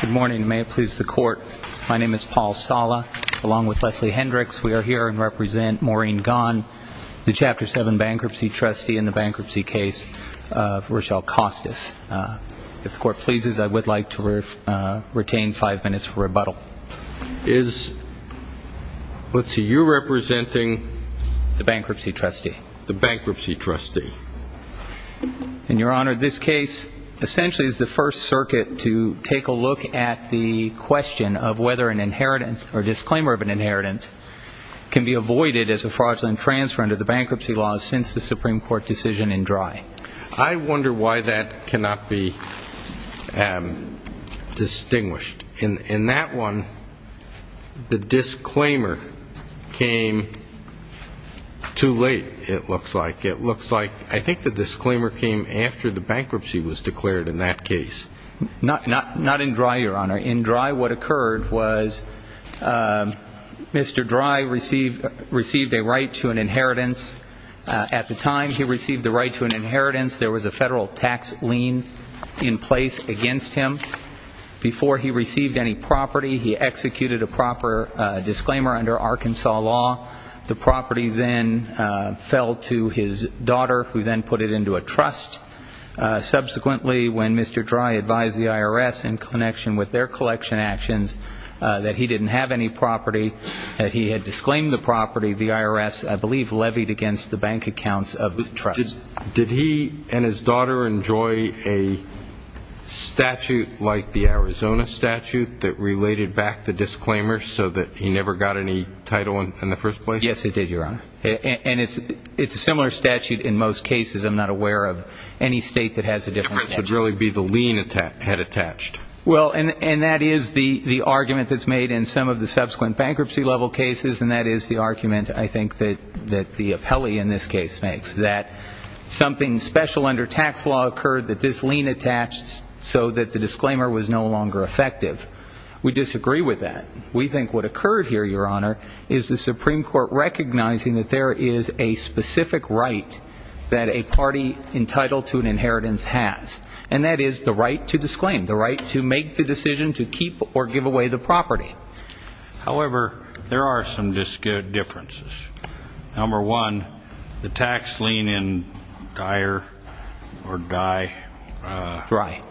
Good morning. May it please the Court, my name is Paul Sala, along with Leslie Hendricks, we are here to represent Maureen Gaughan, the Chapter 7 bankruptcy trustee in the bankruptcy case of Rochelle Costas. If the Court pleases, I would like to retain five minutes for rebuttal. Is, let's see, you representing? The bankruptcy trustee. The bankruptcy trustee. And, Your Honor, this case essentially is the first circuit to take a look at the question of whether an inheritance, or disclaimer of an inheritance, can be avoided as a fraudulent transfer under the bankruptcy laws since the Supreme Court decision in Dry. I wonder why that cannot be distinguished. In that one, the disclaimer came too late, it looks like. It looks like, I think the disclaimer came after the bankruptcy was declared in that case. Not in Dry, Your Honor. In Dry, what occurred was Mr. Dry received a right to an inheritance. At the time he received the right to an inheritance, there was a federal tax lien in place against him. Before he received any property, he executed a proper disclaimer under Arkansas law. The property then fell to his daughter, who then put it into a trust. Subsequently, when Mr. Dry advised the IRS, in connection with their collection actions, that he didn't have any property, that he had disclaimed the property, the IRS, I believe, levied against the bank accounts of the trust. Did he and his daughter enjoy a statute like the Arizona statute that related back the disclaimer so that he never got any title in the first place? Yes, he did, Your Honor. And it's a similar statute in most cases. I'm not aware of any state that has a different statute. It should really be the lien had attached. Well, and that is the argument that's made in some of the subsequent bankruptcy-level cases, and that is the argument, I think, that the appellee in this case makes, that something special under tax law occurred that this lien attached so that the disclaimer was no longer effective. We disagree with that. We think what occurred here, Your Honor, is the Supreme Court recognizing that there is a specific right that a party entitled to an inheritance has, and that is the right to disclaim, the right to make the decision to keep or give away the property. However, there are some differences. Number one, the tax lien in Dyer or Dye. Dreier.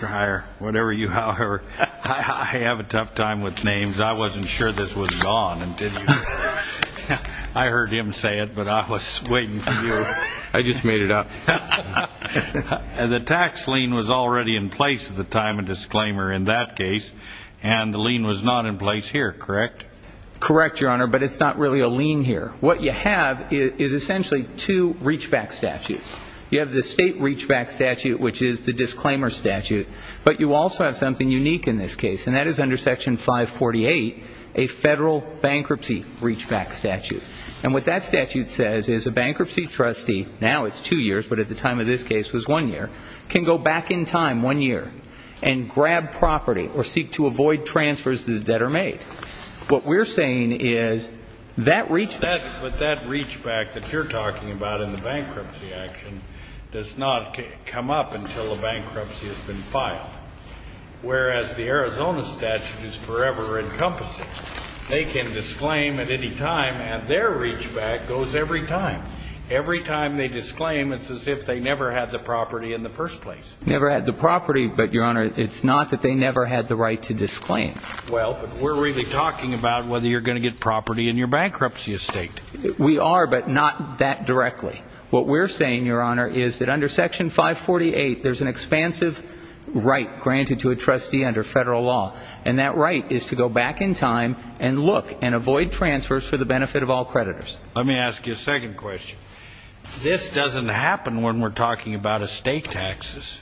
Dreier, whatever you have. I have a tough time with names. I wasn't sure this was gone until you said it. I heard him say it, but I was waiting for you. I just made it up. The tax lien was already in place at the time of disclaimer in that case, and the lien was not in place here, correct? Correct, Your Honor, but it's not really a lien here. What you have is essentially two reach-back statutes. You have the state reach-back statute, which is the disclaimer statute, but you also have something unique in this case, and that is under Section 548, a federal bankruptcy reach-back statute. And what that statute says is a bankruptcy trustee, now it's two years, but at the time of this case it was one year, can go back in time one year and grab property or seek to avoid transfers that are made. What we're saying is that reach-back. But that reach-back that you're talking about in the bankruptcy action does not come up until the bankruptcy has been filed, whereas the Arizona statute is forever encompassing. They can disclaim at any time, and their reach-back goes every time. Every time they disclaim, it's as if they never had the property in the first place. Never had the property, but, Your Honor, it's not that they never had the right to disclaim. Well, but we're really talking about whether you're going to get property in your bankruptcy estate. We are, but not that directly. What we're saying, Your Honor, is that under Section 548, there's an expansive right granted to a trustee under federal law. And that right is to go back in time and look and avoid transfers for the benefit of all creditors. Let me ask you a second question. This doesn't happen when we're talking about estate taxes.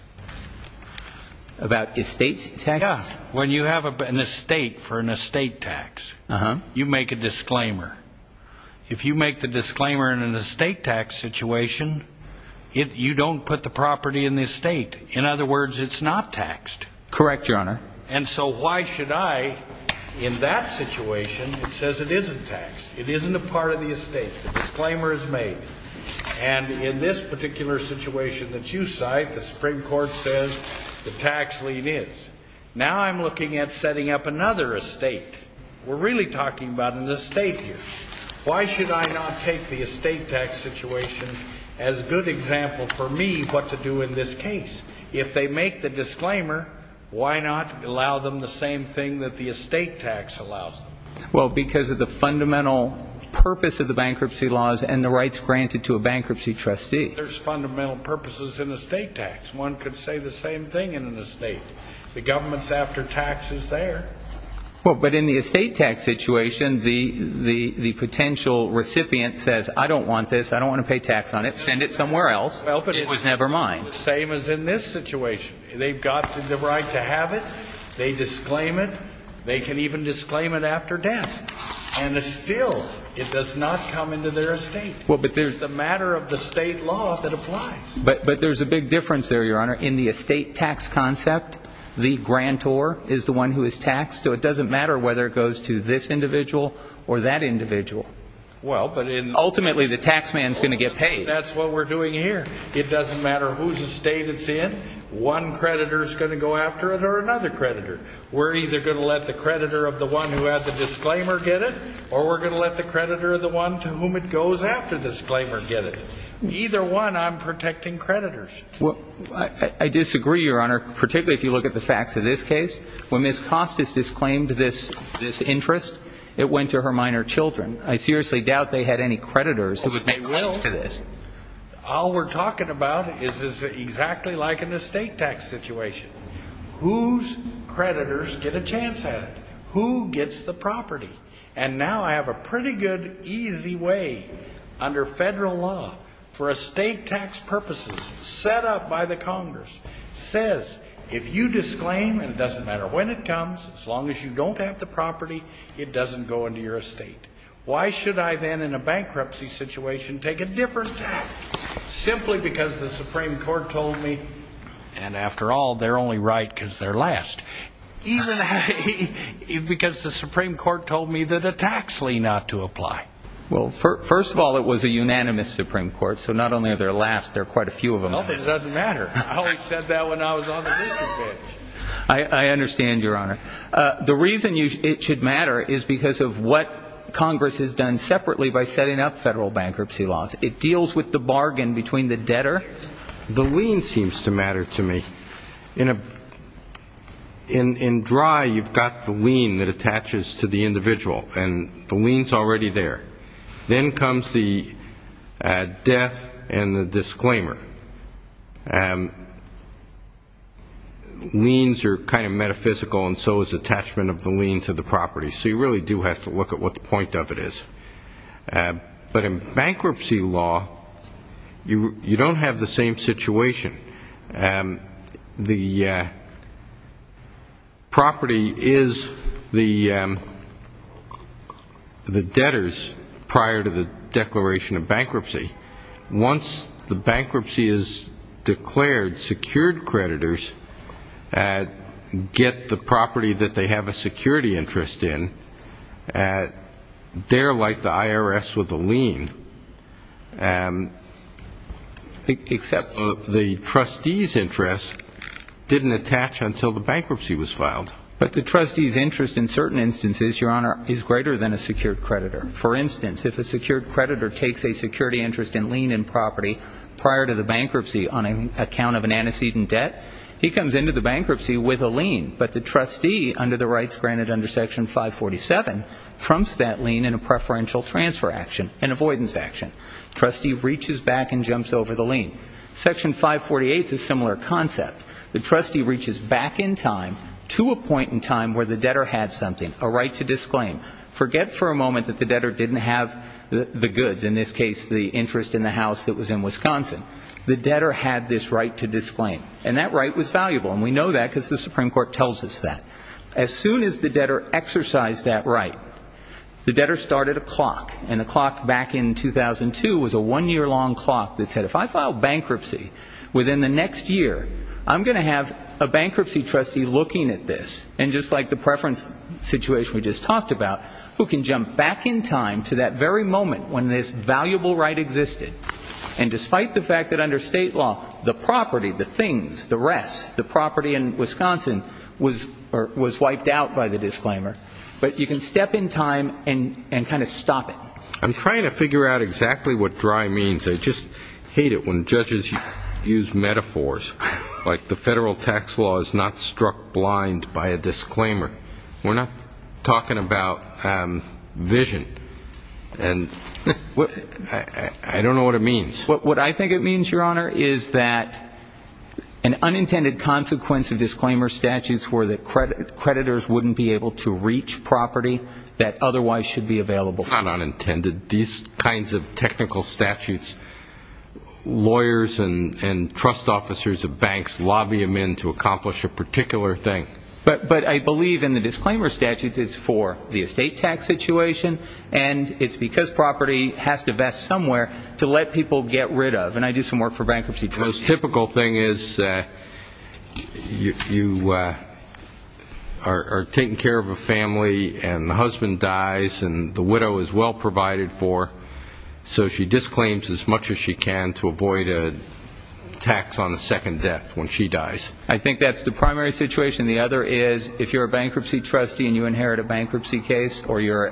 About estate taxes? Yeah. When you have an estate for an estate tax, you make a disclaimer. If you make the disclaimer in an estate tax situation, you don't put the property in the estate. In other words, it's not taxed. Correct, Your Honor. And so why should I, in that situation, it says it isn't taxed. It isn't a part of the estate. The disclaimer is made. And in this particular situation that you cite, the Supreme Court says the tax lien is. Now I'm looking at setting up another estate. We're really talking about an estate here. Why should I not take the estate tax situation as a good example for me what to do in this case? If they make the disclaimer, why not allow them the same thing that the estate tax allows them? Well, because of the fundamental purpose of the bankruptcy laws and the rights granted to a bankruptcy trustee. There's fundamental purposes in estate tax. One could say the same thing in an estate. The government's after tax is there. Well, but in the estate tax situation, the potential recipient says, I don't want this. I don't want to pay tax on it. Send it somewhere else. It was never mine. The same as in this situation. They've got the right to have it. They disclaim it. They can even disclaim it after death. And still it does not come into their estate. Well, but there's the matter of the state law that applies. But there's a big difference there, Your Honor. In the estate tax concept, the grantor is the one who is taxed. So it doesn't matter whether it goes to this individual or that individual. Well, but in. Ultimately, the tax man is going to get paid. That's what we're doing here. It doesn't matter whose estate it's in. One creditor is going to go after it or another creditor. We're either going to let the creditor of the one who has the disclaimer get it, or we're going to let the creditor of the one to whom it goes after disclaimer get it. Either one, I'm protecting creditors. Well, I disagree, Your Honor, particularly if you look at the facts of this case. When Ms. Costas disclaimed this interest, it went to her minor children. I seriously doubt they had any creditors who would make claims to this. All we're talking about is this is exactly like an estate tax situation. Whose creditors get a chance at it? Who gets the property? And now I have a pretty good, easy way under federal law for estate tax purposes set up by the Congress. It says if you disclaim, and it doesn't matter when it comes, as long as you don't have the property, it doesn't go into your estate. Why should I then, in a bankruptcy situation, take a different tax? Simply because the Supreme Court told me, and after all, they're only right because they're last. Even because the Supreme Court told me that a tax lie not to apply. Well, first of all, it was a unanimous Supreme Court, so not only are they last, there are quite a few of them. Well, it doesn't matter. I always said that when I was on the business bench. I understand, Your Honor. The reason it should matter is because of what Congress has done separately by setting up federal bankruptcy laws. It deals with the bargain between the debtor. The lien seems to matter to me. In dry, you've got the lien that attaches to the individual, and the lien's already there. Then comes the death and the disclaimer. Liens are kind of metaphysical, and so is attachment of the lien to the property. So you really do have to look at what the point of it is. But in bankruptcy law, you don't have the same situation. The property is the debtors prior to the declaration of bankruptcy. Once the bankruptcy is declared, secured creditors get the property that they have a security interest in. They're like the IRS with the lien. Except the trustee's interest didn't attach until the bankruptcy was filed. But the trustee's interest in certain instances, Your Honor, is greater than a secured creditor. For instance, if a secured creditor takes a security interest in lien and property prior to the bankruptcy on account of an antecedent debt, he comes into the bankruptcy with a lien. But the trustee, under the rights granted under Section 547, trumps that lien in a preferential transfer action, an avoidance action. Trustee reaches back and jumps over the lien. Section 548's a similar concept. The trustee reaches back in time to a point in time where the debtor had something, a right to disclaim. Forget for a moment that the debtor didn't have the goods, in this case the interest in the house that was in Wisconsin. The debtor had this right to disclaim. And that right was valuable. And we know that because the Supreme Court tells us that. As soon as the debtor exercised that right, the debtor started a clock. And the clock back in 2002 was a one-year-long clock that said, if I file bankruptcy within the next year, I'm going to have a bankruptcy trustee looking at this, and just like the preference situation we just talked about, who can jump back in time to that very moment when this valuable right existed. And despite the fact that under state law, the property, the things, the rest, the property in Wisconsin was wiped out by the disclaimer. But you can step in time and kind of stop it. I'm trying to figure out exactly what dry means. I just hate it when judges use metaphors like the federal tax law is not struck blind by a disclaimer. We're not talking about vision. I don't know what it means. What I think it means, Your Honor, is that an unintended consequence of disclaimer statutes were that creditors wouldn't be able to reach property that otherwise should be available. It's not unintended. These kinds of technical statutes, lawyers and trust officers of banks lobby them in to accomplish a particular thing. But I believe in the disclaimer statutes it's for the estate tax situation, and it's because property has to vest somewhere to let people get rid of. And I do some work for bankruptcy trustees. The most typical thing is you are taking care of a family, and the husband dies, and the widow is well provided for, so she disclaims as much as she can to avoid a tax on the second death when she dies. I think that's the primary situation. The other is if you're a bankruptcy trustee and you inherit a bankruptcy case, or you're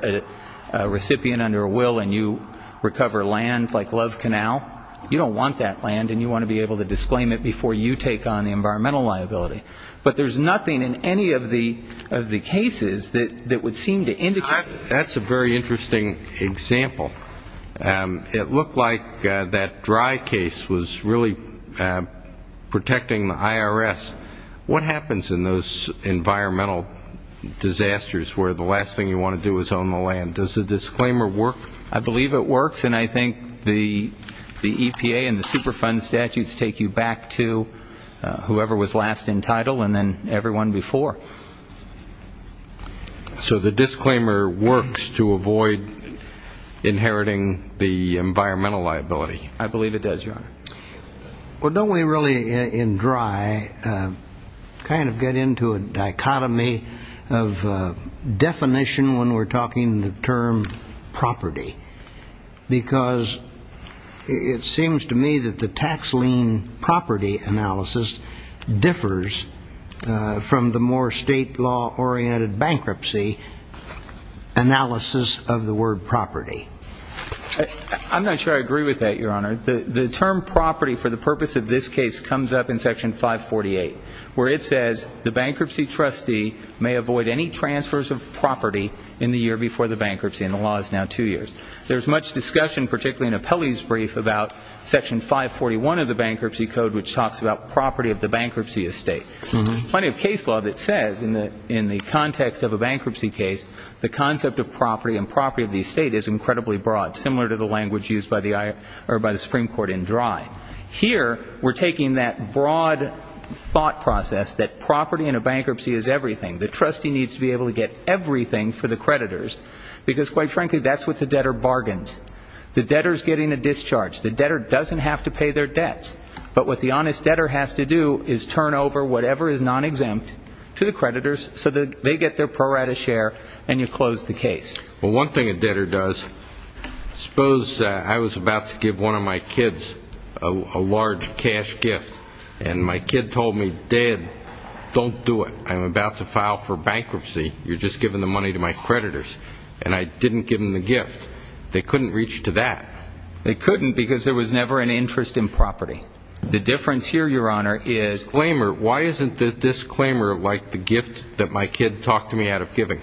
a recipient under a will and you recover land like Love Canal, you don't want that land and you want to be able to disclaim it before you take on the environmental liability. But there's nothing in any of the cases that would seem to indicate that. That's a very interesting example. It looked like that dry case was really protecting the IRS. What happens in those environmental disasters where the last thing you want to do is own the land? Does the disclaimer work? I believe it works, and I think the EPA and the Superfund statutes take you back to whoever was last in title and then everyone before. So the disclaimer works to avoid inheriting the environmental liability. I believe it does, Your Honor. Well, don't we really, in dry, kind of get into a dichotomy of definition when we're talking the term property? Because it seems to me that the tax lien property analysis differs from the more state-law-oriented bankruptcy analysis of the word property. I'm not sure I agree with that, Your Honor. The term property for the purpose of this case comes up in Section 548, where it says the bankruptcy trustee may avoid any transfers of property in the year before the bankruptcy, and the law is now two years. There's much discussion, particularly in Appellee's Brief, about Section 541 of the Bankruptcy Code, which talks about property of the bankruptcy estate. Plenty of case law that says in the context of a bankruptcy case, the concept of property and property of the estate is incredibly broad, similar to the language used by the Supreme Court in dry. Here, we're taking that broad thought process that property in a bankruptcy is everything. The trustee needs to be able to get everything for the creditors, because, quite frankly, that's what the debtor bargains. The debtor is getting a discharge. The debtor doesn't have to pay their debts. But what the honest debtor has to do is turn over whatever is non-exempt to the creditors, so that they get their pro rata share, and you close the case. Well, one thing a debtor does, suppose I was about to give one of my kids a large cash gift, and my kid told me, Dad, don't do it. I'm about to file for bankruptcy. You're just giving the money to my creditors. And I didn't give them the gift. They couldn't reach to that. They couldn't because there was never an interest in property. The difference here, Your Honor, is the disclaimer. Why isn't the disclaimer like the gift that my kid talked me out of giving?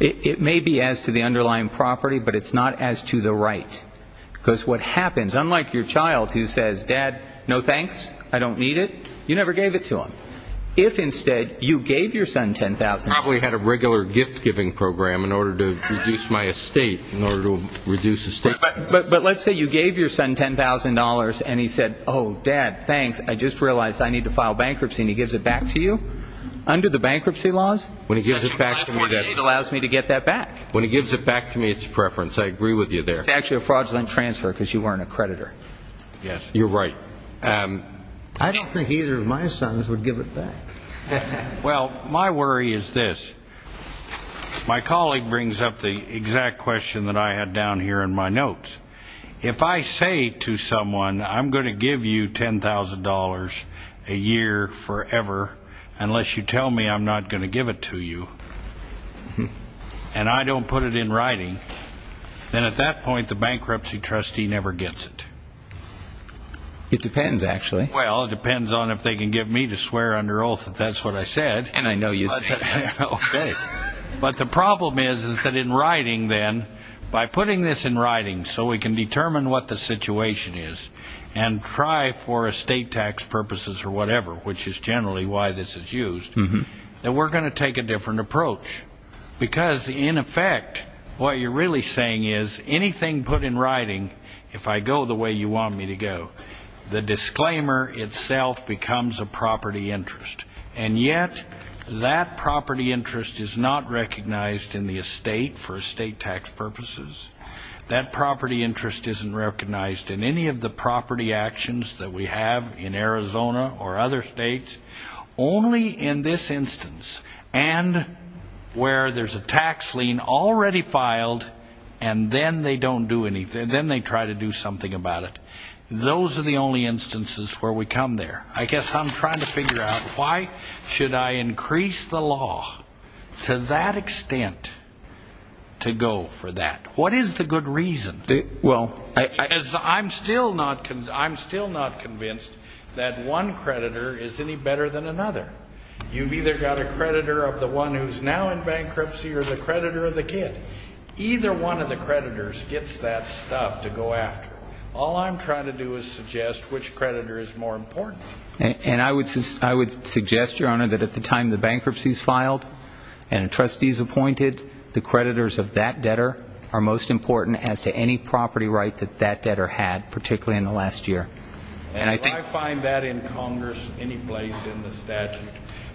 It may be as to the underlying property, but it's not as to the right. Because what happens, unlike your child who says, Dad, no thanks, I don't need it, you never gave it to him. If, instead, you gave your son $10,000. I probably had a regular gift-giving program in order to reduce my estate, in order to reduce estate costs. But let's say you gave your son $10,000, and he said, oh, Dad, thanks, I just realized I need to file bankruptcy, and he gives it back to you under the bankruptcy laws. When he gives it back to me, it allows me to get that back. When he gives it back to me, it's a preference. I agree with you there. It's actually a fraudulent transfer because you weren't a creditor. Yes, you're right. I don't think either of my sons would give it back. Well, my worry is this. If I say to someone, I'm going to give you $10,000 a year forever unless you tell me I'm not going to give it to you, and I don't put it in writing, then at that point the bankruptcy trustee never gets it. It depends, actually. Well, it depends on if they can get me to swear under oath that that's what I said. And I know you'd say that. Okay. But the problem is that in writing, then, by putting this in writing so we can determine what the situation is and try for estate tax purposes or whatever, which is generally why this is used, that we're going to take a different approach because, in effect, what you're really saying is anything put in writing, if I go the way you want me to go, the disclaimer itself becomes a property interest. And yet that property interest is not recognized in the estate for estate tax purposes. That property interest isn't recognized in any of the property actions that we have in Arizona or other states, only in this instance and where there's a tax lien already filed, and then they don't do anything. Then they try to do something about it. Those are the only instances where we come there. I guess I'm trying to figure out why should I increase the law to that extent to go for that? What is the good reason? Well, I'm still not convinced that one creditor is any better than another. You've either got a creditor of the one who's now in bankruptcy or the creditor of the kid. Either one of the creditors gets that stuff to go after. All I'm trying to do is suggest which creditor is more important. And I would suggest, Your Honor, that at the time the bankruptcy is filed and a trustee is appointed, the creditors of that debtor are most important as to any property right that that debtor had, particularly in the last year. And do I find that in Congress any place in the statute?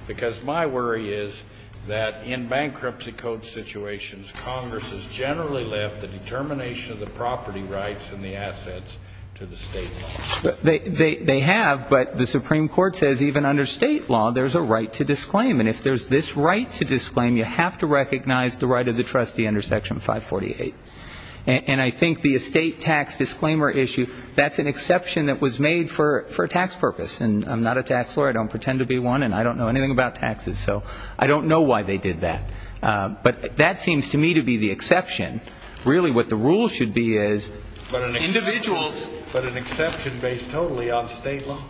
Because my worry is that in bankruptcy code situations, Congress has generally left the determination of the property rights and the assets to the state. They have, but the Supreme Court says even under state law there's a right to disclaim. And if there's this right to disclaim, you have to recognize the right of the trustee under Section 548. And I think the estate tax disclaimer issue, that's an exception that was made for a tax purpose. And I'm not a tax lawyer. I don't pretend to be one, and I don't know anything about taxes. So I don't know why they did that. But that seems to me to be the exception. Really what the rule should be is individuals. But an exception based totally on state law.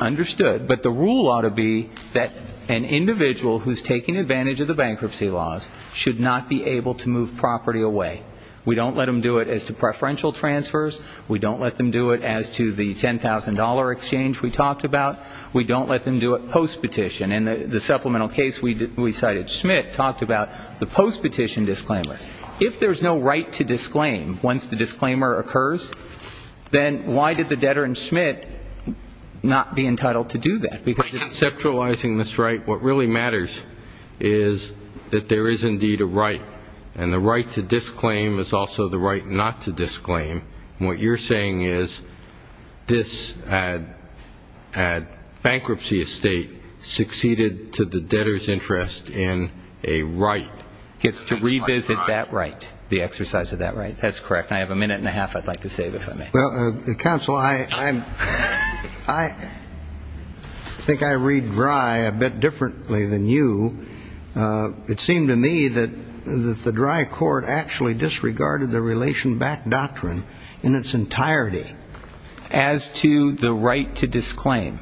Understood. But the rule ought to be that an individual who's taking advantage of the bankruptcy laws should not be able to move property away. We don't let them do it as to preferential transfers. We don't let them do it as to the $10,000 exchange we talked about. We don't let them do it post-petition. And the supplemental case we cited Schmidt talked about the post-petition disclaimer. If there's no right to disclaim once the disclaimer occurs, then why did the debtor in Schmidt not be entitled to do that? Because conceptualizing this right, what really matters is that there is indeed a right. And the right to disclaim is also the right not to disclaim. And what you're saying is this bankruptcy estate succeeded to the debtor's interest in a right. Gets to revisit that right, the exercise of that right. That's correct. And I have a minute and a half I'd like to save if I may. Well, counsel, I think I read Drey a bit differently than you. It seemed to me that the Drey court actually disregarded the relation back doctrine in its entirety. As to the right to disclaim.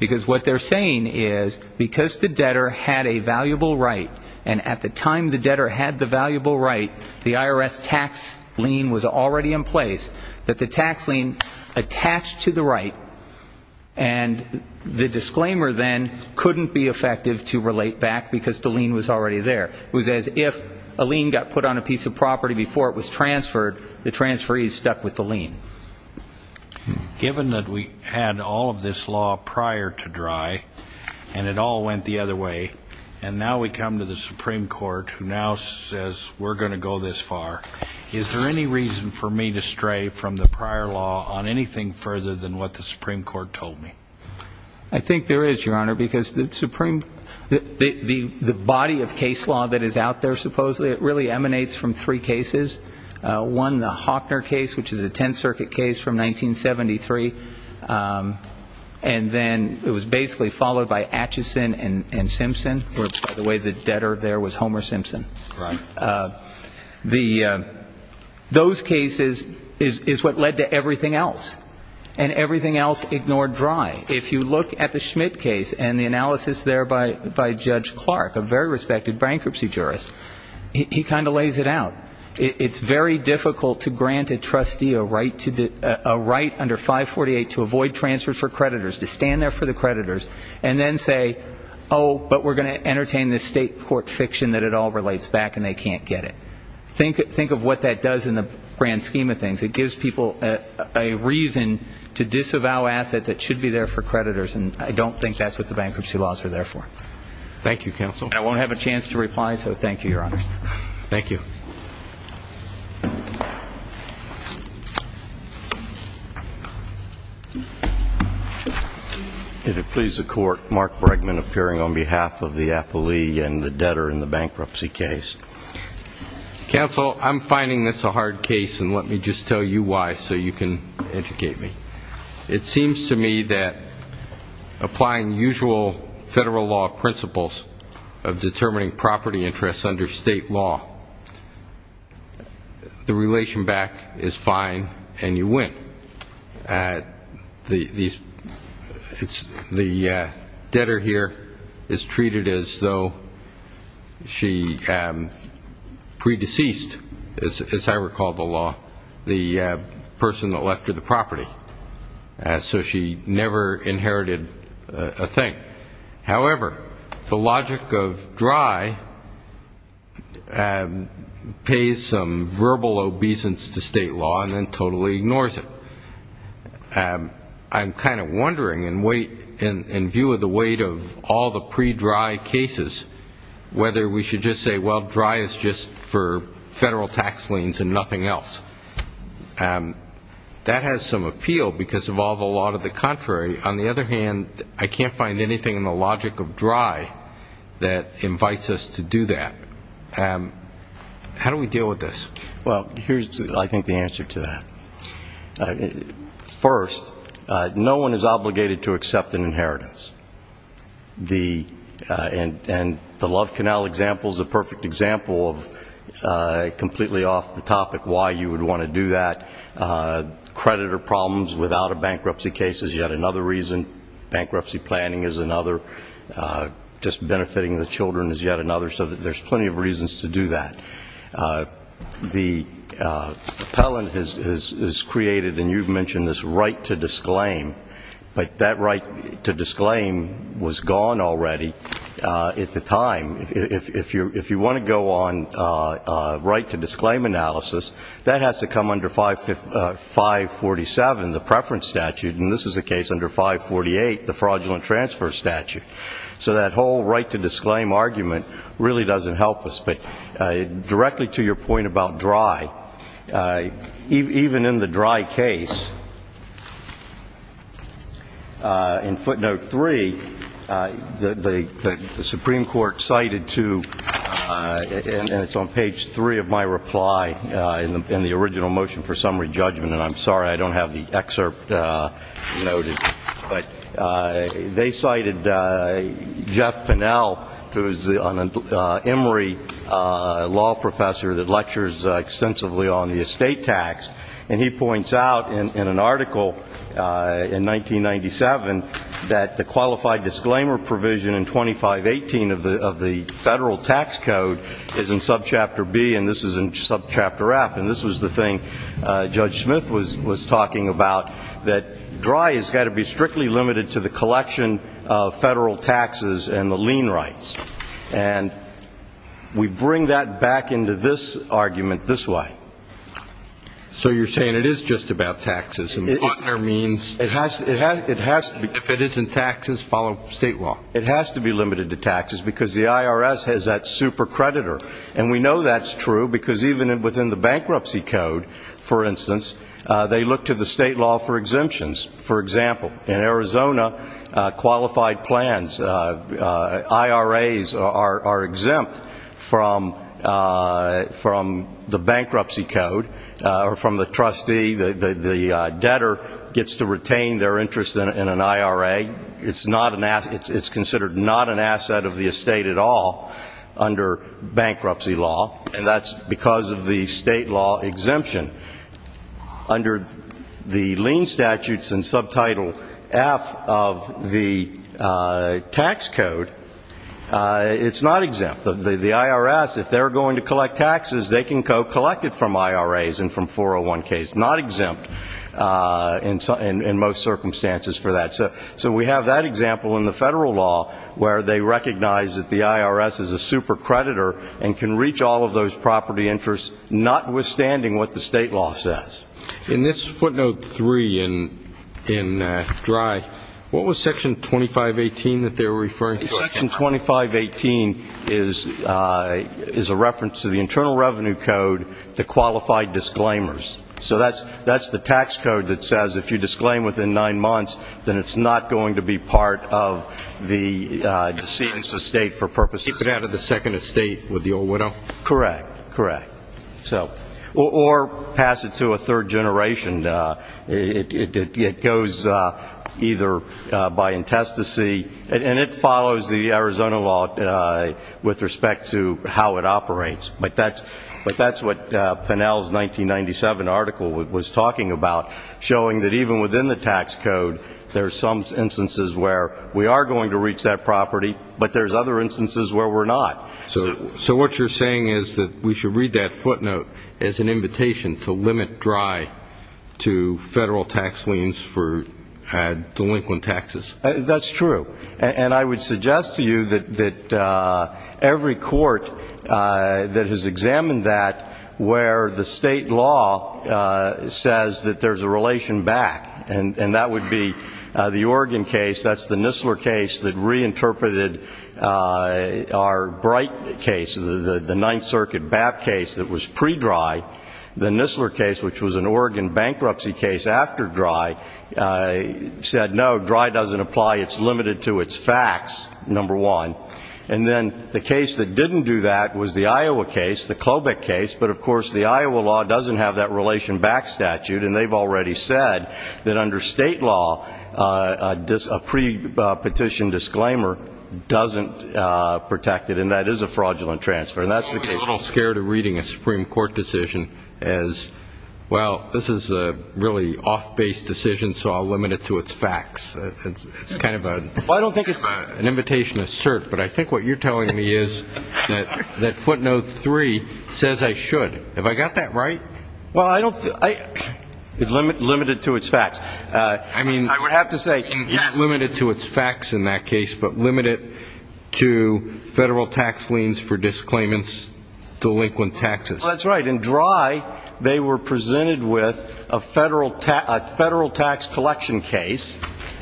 Because what they're saying is because the debtor had a valuable right, and at the time the debtor had the valuable right, the IRS tax lien was already in place, that the tax lien attached to the right, and the disclaimer then couldn't be effective to relate back because the lien was already there. It was as if a lien got put on a piece of property before it was transferred. The transferee is stuck with the lien. Given that we had all of this law prior to Drey, and it all went the other way, and now we come to the Supreme Court who now says we're going to go this far, is there any reason for me to stray from the prior law on anything further than what the Supreme Court told me? I think there is, Your Honor, because the body of case law that is out there, supposedly, it really emanates from three cases. One, the Hockner case, which is a Tenth Circuit case from 1973. And then it was basically followed by Atchison and Simpson, where, by the way, the debtor there was Homer Simpson. Those cases is what led to everything else, and everything else ignored Drey. If you look at the Schmidt case and the analysis there by Judge Clark, a very respected bankruptcy jurist, he kind of lays it out. It's very difficult to grant a trustee a right under 548 to avoid transfers for creditors, to stand there for the creditors and then say, oh, but we're going to entertain this state court fiction that it all relates back and they can't get it. Think of what that does in the grand scheme of things. It gives people a reason to disavow assets that should be there for creditors, and I don't think that's what the bankruptcy laws are there for. Thank you, counsel. And I won't have a chance to reply, so thank you, Your Honor. Thank you. If it pleases the Court, Mark Bregman appearing on behalf of the appellee and the debtor in the bankruptcy case. Counsel, I'm finding this a hard case, and let me just tell you why so you can educate me. It seems to me that applying usual federal law principles of determining property interests under state law, the relation back is fine and you win. The debtor here is treated as though she pre-deceased, as I recall the law, the person that left her the property, so she never inherited a thing. However, the logic of dry pays some verbal obeisance to state law and then totally ignores it. I'm kind of wondering, in view of the weight of all the pre-dry cases, whether we should just say, well, dry is just for federal tax liens and nothing else. That has some appeal because of all the law to the contrary. On the other hand, I can't find anything in the logic of dry that invites us to do that. How do we deal with this? Well, here's, I think, the answer to that. First, no one is obligated to accept an inheritance. And the Love Canal example is a perfect example of completely off the topic why you would want to do that. Creditor problems without a bankruptcy case is yet another reason. Bankruptcy planning is another. Just benefiting the children is yet another. So there's plenty of reasons to do that. The appellant is created, and you've mentioned this right to disclaim, but that right to disclaim was gone already at the time. If you want to go on right to disclaim analysis, that has to come under 547, the preference statute, and this is the case under 548, the fraudulent transfer statute. So that whole right to disclaim argument really doesn't help us. Directly to your point about dry, even in the dry case, in footnote three, the Supreme Court cited to, and it's on page three of my reply in the original motion for summary judgment, and I'm sorry I don't have the excerpt noted, but they cited Jeff Pennell, who is an Emory law professor that lectures extensively on the estate tax, and he points out in an article in 1997 that the qualified disclaimer provision in 2518 of the federal tax code is in subchapter B, and this is in subchapter F, and this was the thing Judge Smith was talking about, that dry has got to be strictly limited to the collection of federal taxes and the lien rights, and we bring that back into this argument this way. So you're saying it is just about taxes? It has to be. If it isn't taxes, follow state law. It has to be limited to taxes because the IRS has that super creditor, and we know that's true because even within the bankruptcy code, for instance, they look to the state law for exemptions. For example, in Arizona, qualified plans, IRAs, are exempt from the bankruptcy code or from the trustee. The debtor gets to retain their interest in an IRA. It's considered not an asset of the estate at all under bankruptcy law, and that's because of the state law exemption. Under the lien statutes in subtitle F of the tax code, it's not exempt. The IRS, if they're going to collect taxes, they can collect it from IRAs and from 401Ks, not exempt in most circumstances for that. So we have that example in the federal law where they recognize that the IRS is a super creditor and can reach all of those property interests, notwithstanding what the state law says. In this footnote three in DRY, what was Section 2518 that they were referring to? Section 2518 is a reference to the Internal Revenue Code, the qualified disclaimers. So that's the tax code that says if you disclaim within nine months, then it's not going to be part of the decedent's estate for purposes. To keep it out of the second estate with the old widow? Correct, correct. Or pass it to a third generation. It goes either by intestacy, and it follows the Arizona law with respect to how it operates. But that's what Pinnell's 1997 article was talking about, showing that even within the tax code there are some instances where we are going to reach that property, but there's other instances where we're not. So what you're saying is that we should read that footnote as an invitation to limit DRY to federal tax liens for delinquent taxes. That's true. And I would suggest to you that every court that has examined that where the state law says that there's a relation back, and that would be the Oregon case, that's the Nistler case that reinterpreted our Bright case, the Ninth Circuit BAP case that was pre-DRY. The Nistler case, which was an Oregon bankruptcy case after DRY, said no, DRY doesn't apply. It's limited to its facts, number one. And then the case that didn't do that was the Iowa case, the Klobuch case, but, of course, the Iowa law doesn't have that relation back statute, and they've already said that under state law a pre-petition disclaimer doesn't protect it, and that is a fraudulent transfer, and that's the case. I'm a little scared of reading a Supreme Court decision as, well, this is a really off-base decision, so I'll limit it to its facts. It's kind of an invitation to cert, but I think what you're telling me is that footnote three says I should. Have I got that right? Well, I don't think so. Limit it to its facts. I would have to say, yes. Limit it to its facts in that case, but limit it to federal tax liens for disclaimants, delinquent taxes. That's right. In DRY, they were presented with a federal tax collection case,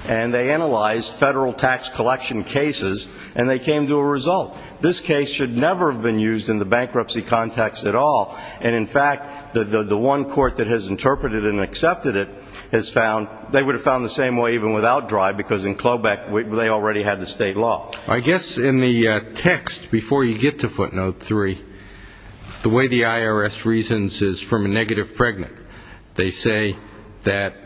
and they analyzed federal tax collection cases, and they came to a result. This case should never have been used in the bankruptcy context at all, and, in fact, the one court that has interpreted and accepted it has found they would have found the same way even without DRY, because in Klobuch they already had the state law. I guess in the text, before you get to footnote three, the way the IRS reasons is from a negative pregnant. They say that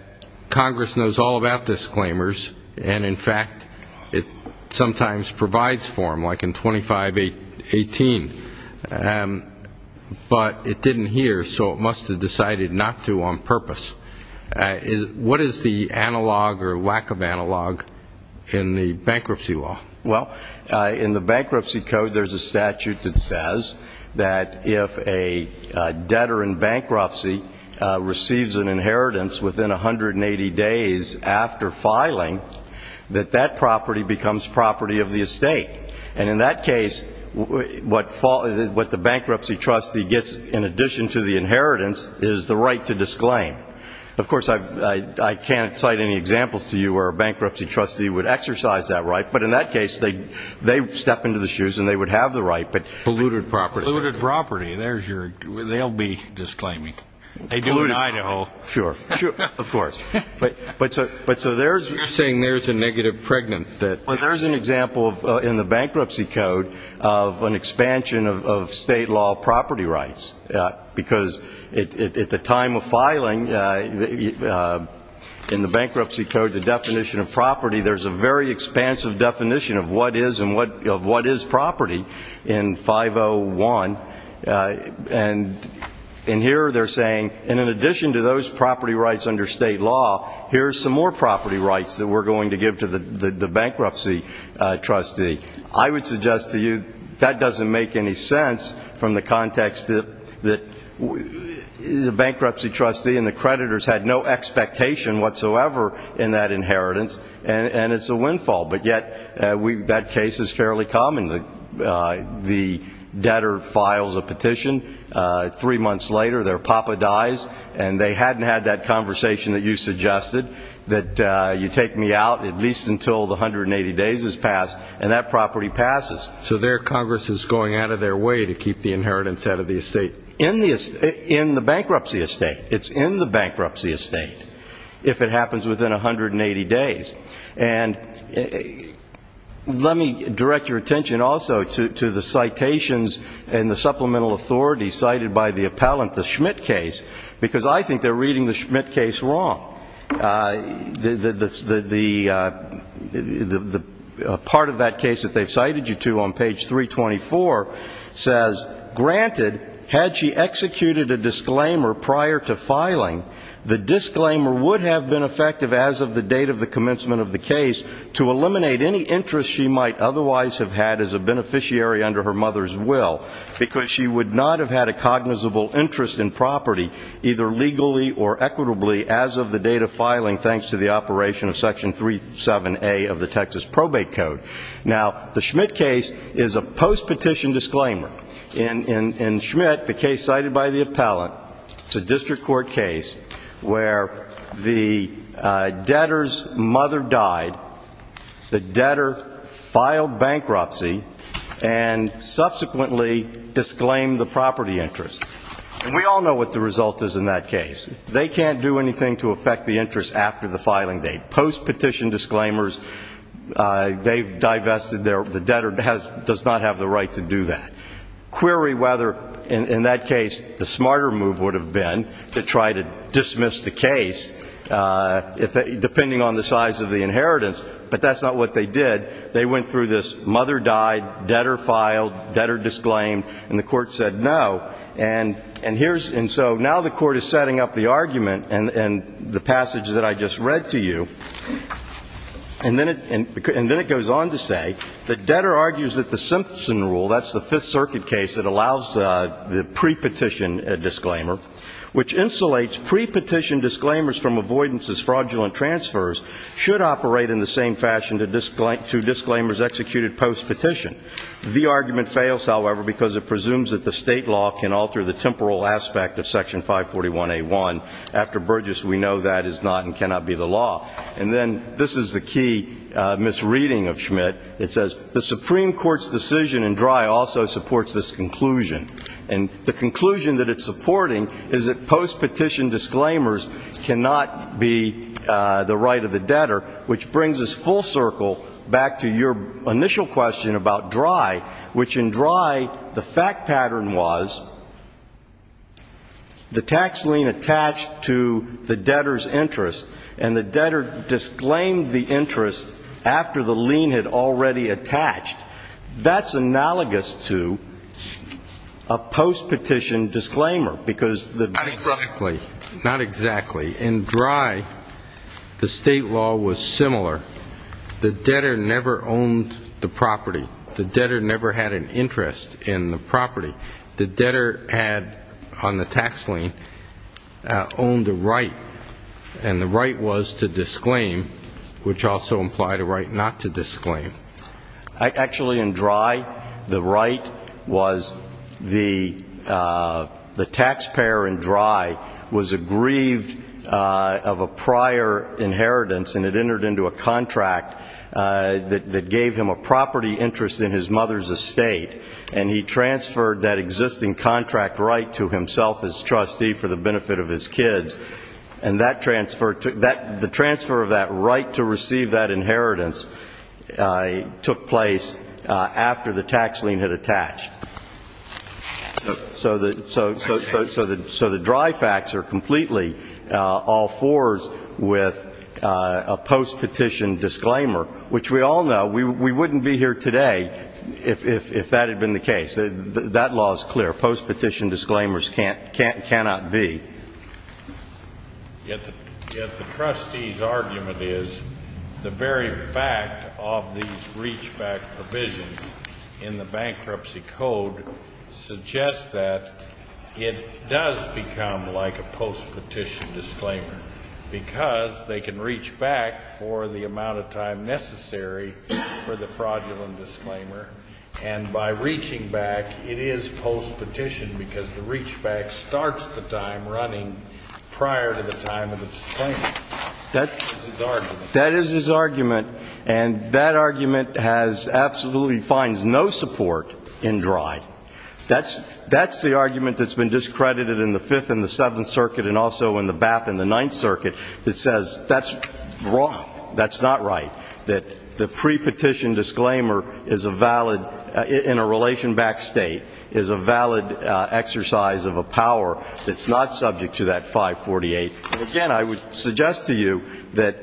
Congress knows all about disclaimers, and, in fact, it sometimes provides for them, like in 2518. But it didn't hear, so it must have decided not to on purpose. What is the analog or lack of analog in the bankruptcy law? Well, in the bankruptcy code, there's a statute that says that if a debtor in bankruptcy receives an inheritance within 180 days after filing, that that property becomes property of the estate. And in that case, what the bankruptcy trustee gets in addition to the inheritance is the right to disclaim. Of course, I can't cite any examples to you where a bankruptcy trustee would exercise that right, but in that case they step into the shoes and they would have the right. Polluted property. Polluted property. They'll be disclaiming. Polluted. They do in Idaho. Sure. Of course. You're saying there's a negative pregnant. There's an example in the bankruptcy code of an expansion of state law property rights, because at the time of filing in the bankruptcy code, the definition of property, there's a very expansive definition of what is and what is property in 501. And here they're saying, and in addition to those property rights under state law, here's some more property rights that we're going to give to the bankruptcy trustee. I would suggest to you that doesn't make any sense from the context that the bankruptcy trustee and the creditors had no expectation whatsoever in that inheritance, and it's a windfall. But yet that case is fairly common. The debtor files a petition. Three months later their papa dies, and they hadn't had that conversation that you suggested, that you take me out at least until the 180 days has passed. And that property passes. So there Congress is going out of their way to keep the inheritance out of the estate. In the bankruptcy estate. It's in the bankruptcy estate if it happens within 180 days. And let me direct your attention also to the citations and the supplemental authority cited by the appellant, the Schmidt case, because I think they're reading the Schmidt case wrong. The part of that case that they've cited you to on page 324 says, Granted, had she executed a disclaimer prior to filing, the disclaimer would have been effective as of the date of the commencement of the case to eliminate any interest she might otherwise have had as a beneficiary under her mother's will, because she would not have had a cognizable interest in property, either legally or equitably, as of the date of filing thanks to the operation of Section 37A of the Texas Probate Code. Now, the Schmidt case is a post-petition disclaimer. In Schmidt, the case cited by the appellant, it's a district court case where the debtor's mother died, the debtor filed bankruptcy and subsequently disclaimed the property interest. And we all know what the result is in that case. They can't do anything to affect the interest after the filing date. Post-petition disclaimers, they've divested, the debtor does not have the right to do that. Query whether, in that case, the smarter move would have been to try to dismiss the case, depending on the size of the inheritance, but that's not what they did. They went through this mother died, debtor filed, debtor disclaimed, and the court said no. And so now the court is setting up the argument and the passage that I just read to you. And then it goes on to say that debtor argues that the Simpson rule, that's the Fifth Circuit case, it allows the pre-petition disclaimer, which insulates pre-petition disclaimers from avoidance as fraudulent transfers, should operate in the same fashion to disclaimers executed post-petition. The argument fails, however, because it presumes that the state law can alter the temporal aspect of Section 541A1. After Burgess, we know that is not and cannot be the law. And then this is the key misreading of Schmidt. It says the Supreme Court's decision in Drey also supports this conclusion. And the conclusion that it's supporting is that post-petition disclaimers cannot be the right of the debtor, which brings us full circle back to your initial question about Drey, which in Drey the fact pattern was the tax lien attached to the debtor's interest and the debtor disclaimed the interest after the lien had already attached. That's analogous to a post-petition disclaimer because the debtor. Not exactly. Not exactly. In Drey, the state law was similar. The debtor never owned the property. The debtor never had an interest in the property. The debtor had on the tax lien owned a right, and the right was to disclaim, which also implied a right not to disclaim. Actually, in Drey, the right was the taxpayer in Drey was aggrieved of a prior inheritance and it entered into a contract that gave him a property interest in his mother's estate, and he transferred that existing contract right to himself as trustee for the benefit of his kids. And the transfer of that right to receive that inheritance took place after the tax lien had attached. So the Drey facts are completely all fours with a post-petition disclaimer, which we all know we wouldn't be here today if that had been the case. That law is clear. Post-petition disclaimers cannot be. Yet the trustee's argument is the very fact of these reach-back provisions in the bankruptcy code suggests that it does become like a post-petition disclaimer because they can reach back for the amount of time necessary for the fraudulent disclaimer. And by reaching back, it is post-petition because the reach-back starts the time running prior to the time of the disclaimer. That's his argument. That is his argument, and that argument has absolutely finds no support in Drey. That's the argument that's been discredited in the Fifth and the Seventh Circuit and also in the BAP and the Ninth Circuit that says that's wrong, that's not right, that the pre-petition disclaimer in a relation-backed state is a valid exercise of a power that's not subject to that 548. And, again, I would suggest to you that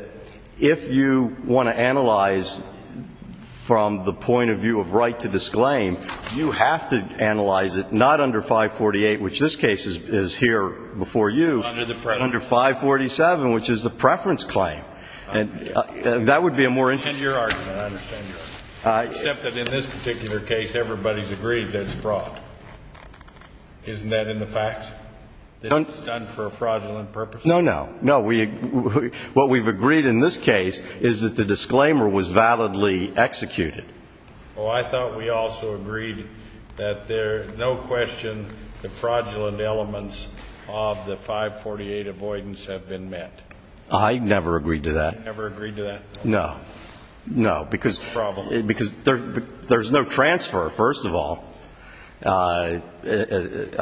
if you want to analyze from the point of view of right to disclaim, you have to analyze it not under 548, which this case is here before you, under 547, which is the preference claim. And that would be a more interesting argument. I understand your argument, except that in this particular case, everybody's agreed that it's fraud. Isn't that in the facts? That it's done for a fraudulent purpose? No, no. No, what we've agreed in this case is that the disclaimer was validly executed. Oh, I thought we also agreed that there's no question the fraudulent elements of the 548 avoidance have been met. I never agreed to that. You never agreed to that? No. No, because there's no transfer, first of all. I had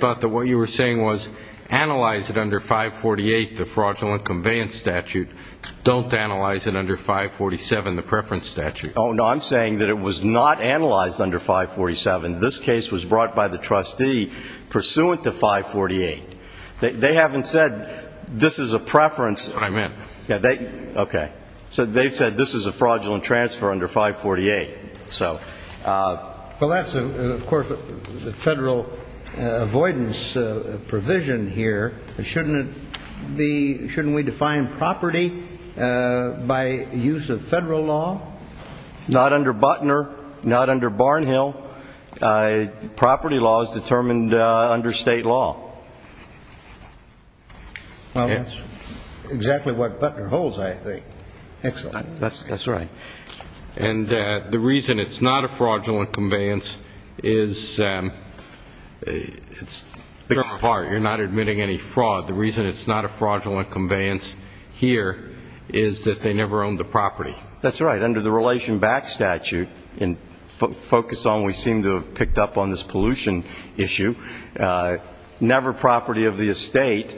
thought that what you were saying was analyze it under 548, the fraudulent conveyance statute. Don't analyze it under 547, the preference statute. Oh, no, I'm saying that it was not analyzed under 547. This case was brought by the trustee pursuant to 548. They haven't said this is a preference. That's what I meant. Okay. So they've said this is a fraudulent transfer under 548. Well, that's, of course, the federal avoidance provision here. Shouldn't we define property by use of federal law? Not under Butner, not under Barnhill. Property law is determined under state law. Well, that's exactly what Butner holds, I think. Excellent. That's right. And the reason it's not a fraudulent conveyance is, in part, you're not admitting any fraud. The reason it's not a fraudulent conveyance here is that they never owned the property. That's right. statute and focus on what we seem to have picked up on this pollution issue. Never property of the estate.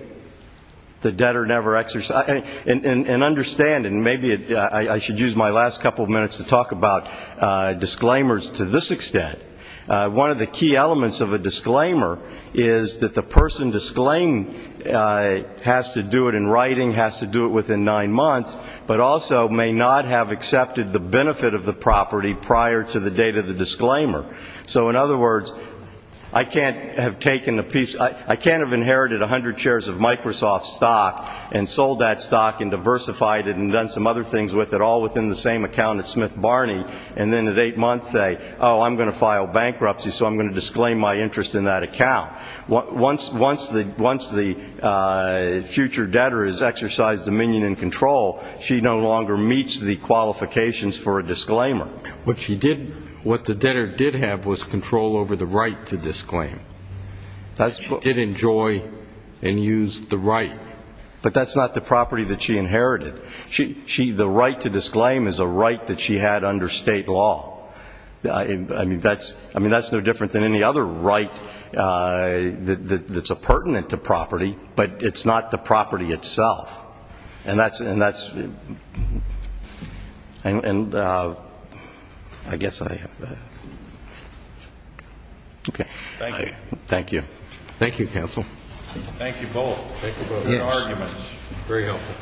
The debtor never exercised. And understand, and maybe I should use my last couple of minutes to talk about disclaimers to this extent. One of the key elements of a disclaimer is that the person disclaimed has to do it in writing, has to do it within nine months, but also may not have accepted the benefit of the property prior to the date of the disclaimer. So, in other words, I can't have inherited 100 shares of Microsoft stock and sold that stock and diversified it and done some other things with it all within the same account at Smith Barney, and then at eight months say, oh, I'm going to file bankruptcy, so I'm going to disclaim my interest in that account. Once the future debtor has exercised dominion and control, she no longer meets the qualifications for a disclaimer. What the debtor did have was control over the right to disclaim. She did enjoy and use the right. But that's not the property that she inherited. The right to disclaim is a right that she had under state law. I mean, that's no different than any other right that's a pertinent to property, but it's not the property itself. And that's ñ and I guess I ñ okay. Thank you. Thank you. Thank you, counsel. Thank you both. Thank you both. Good arguments. Very helpful.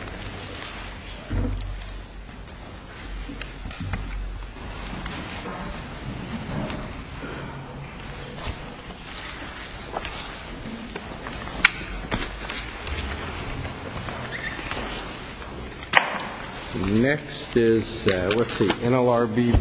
Thank you.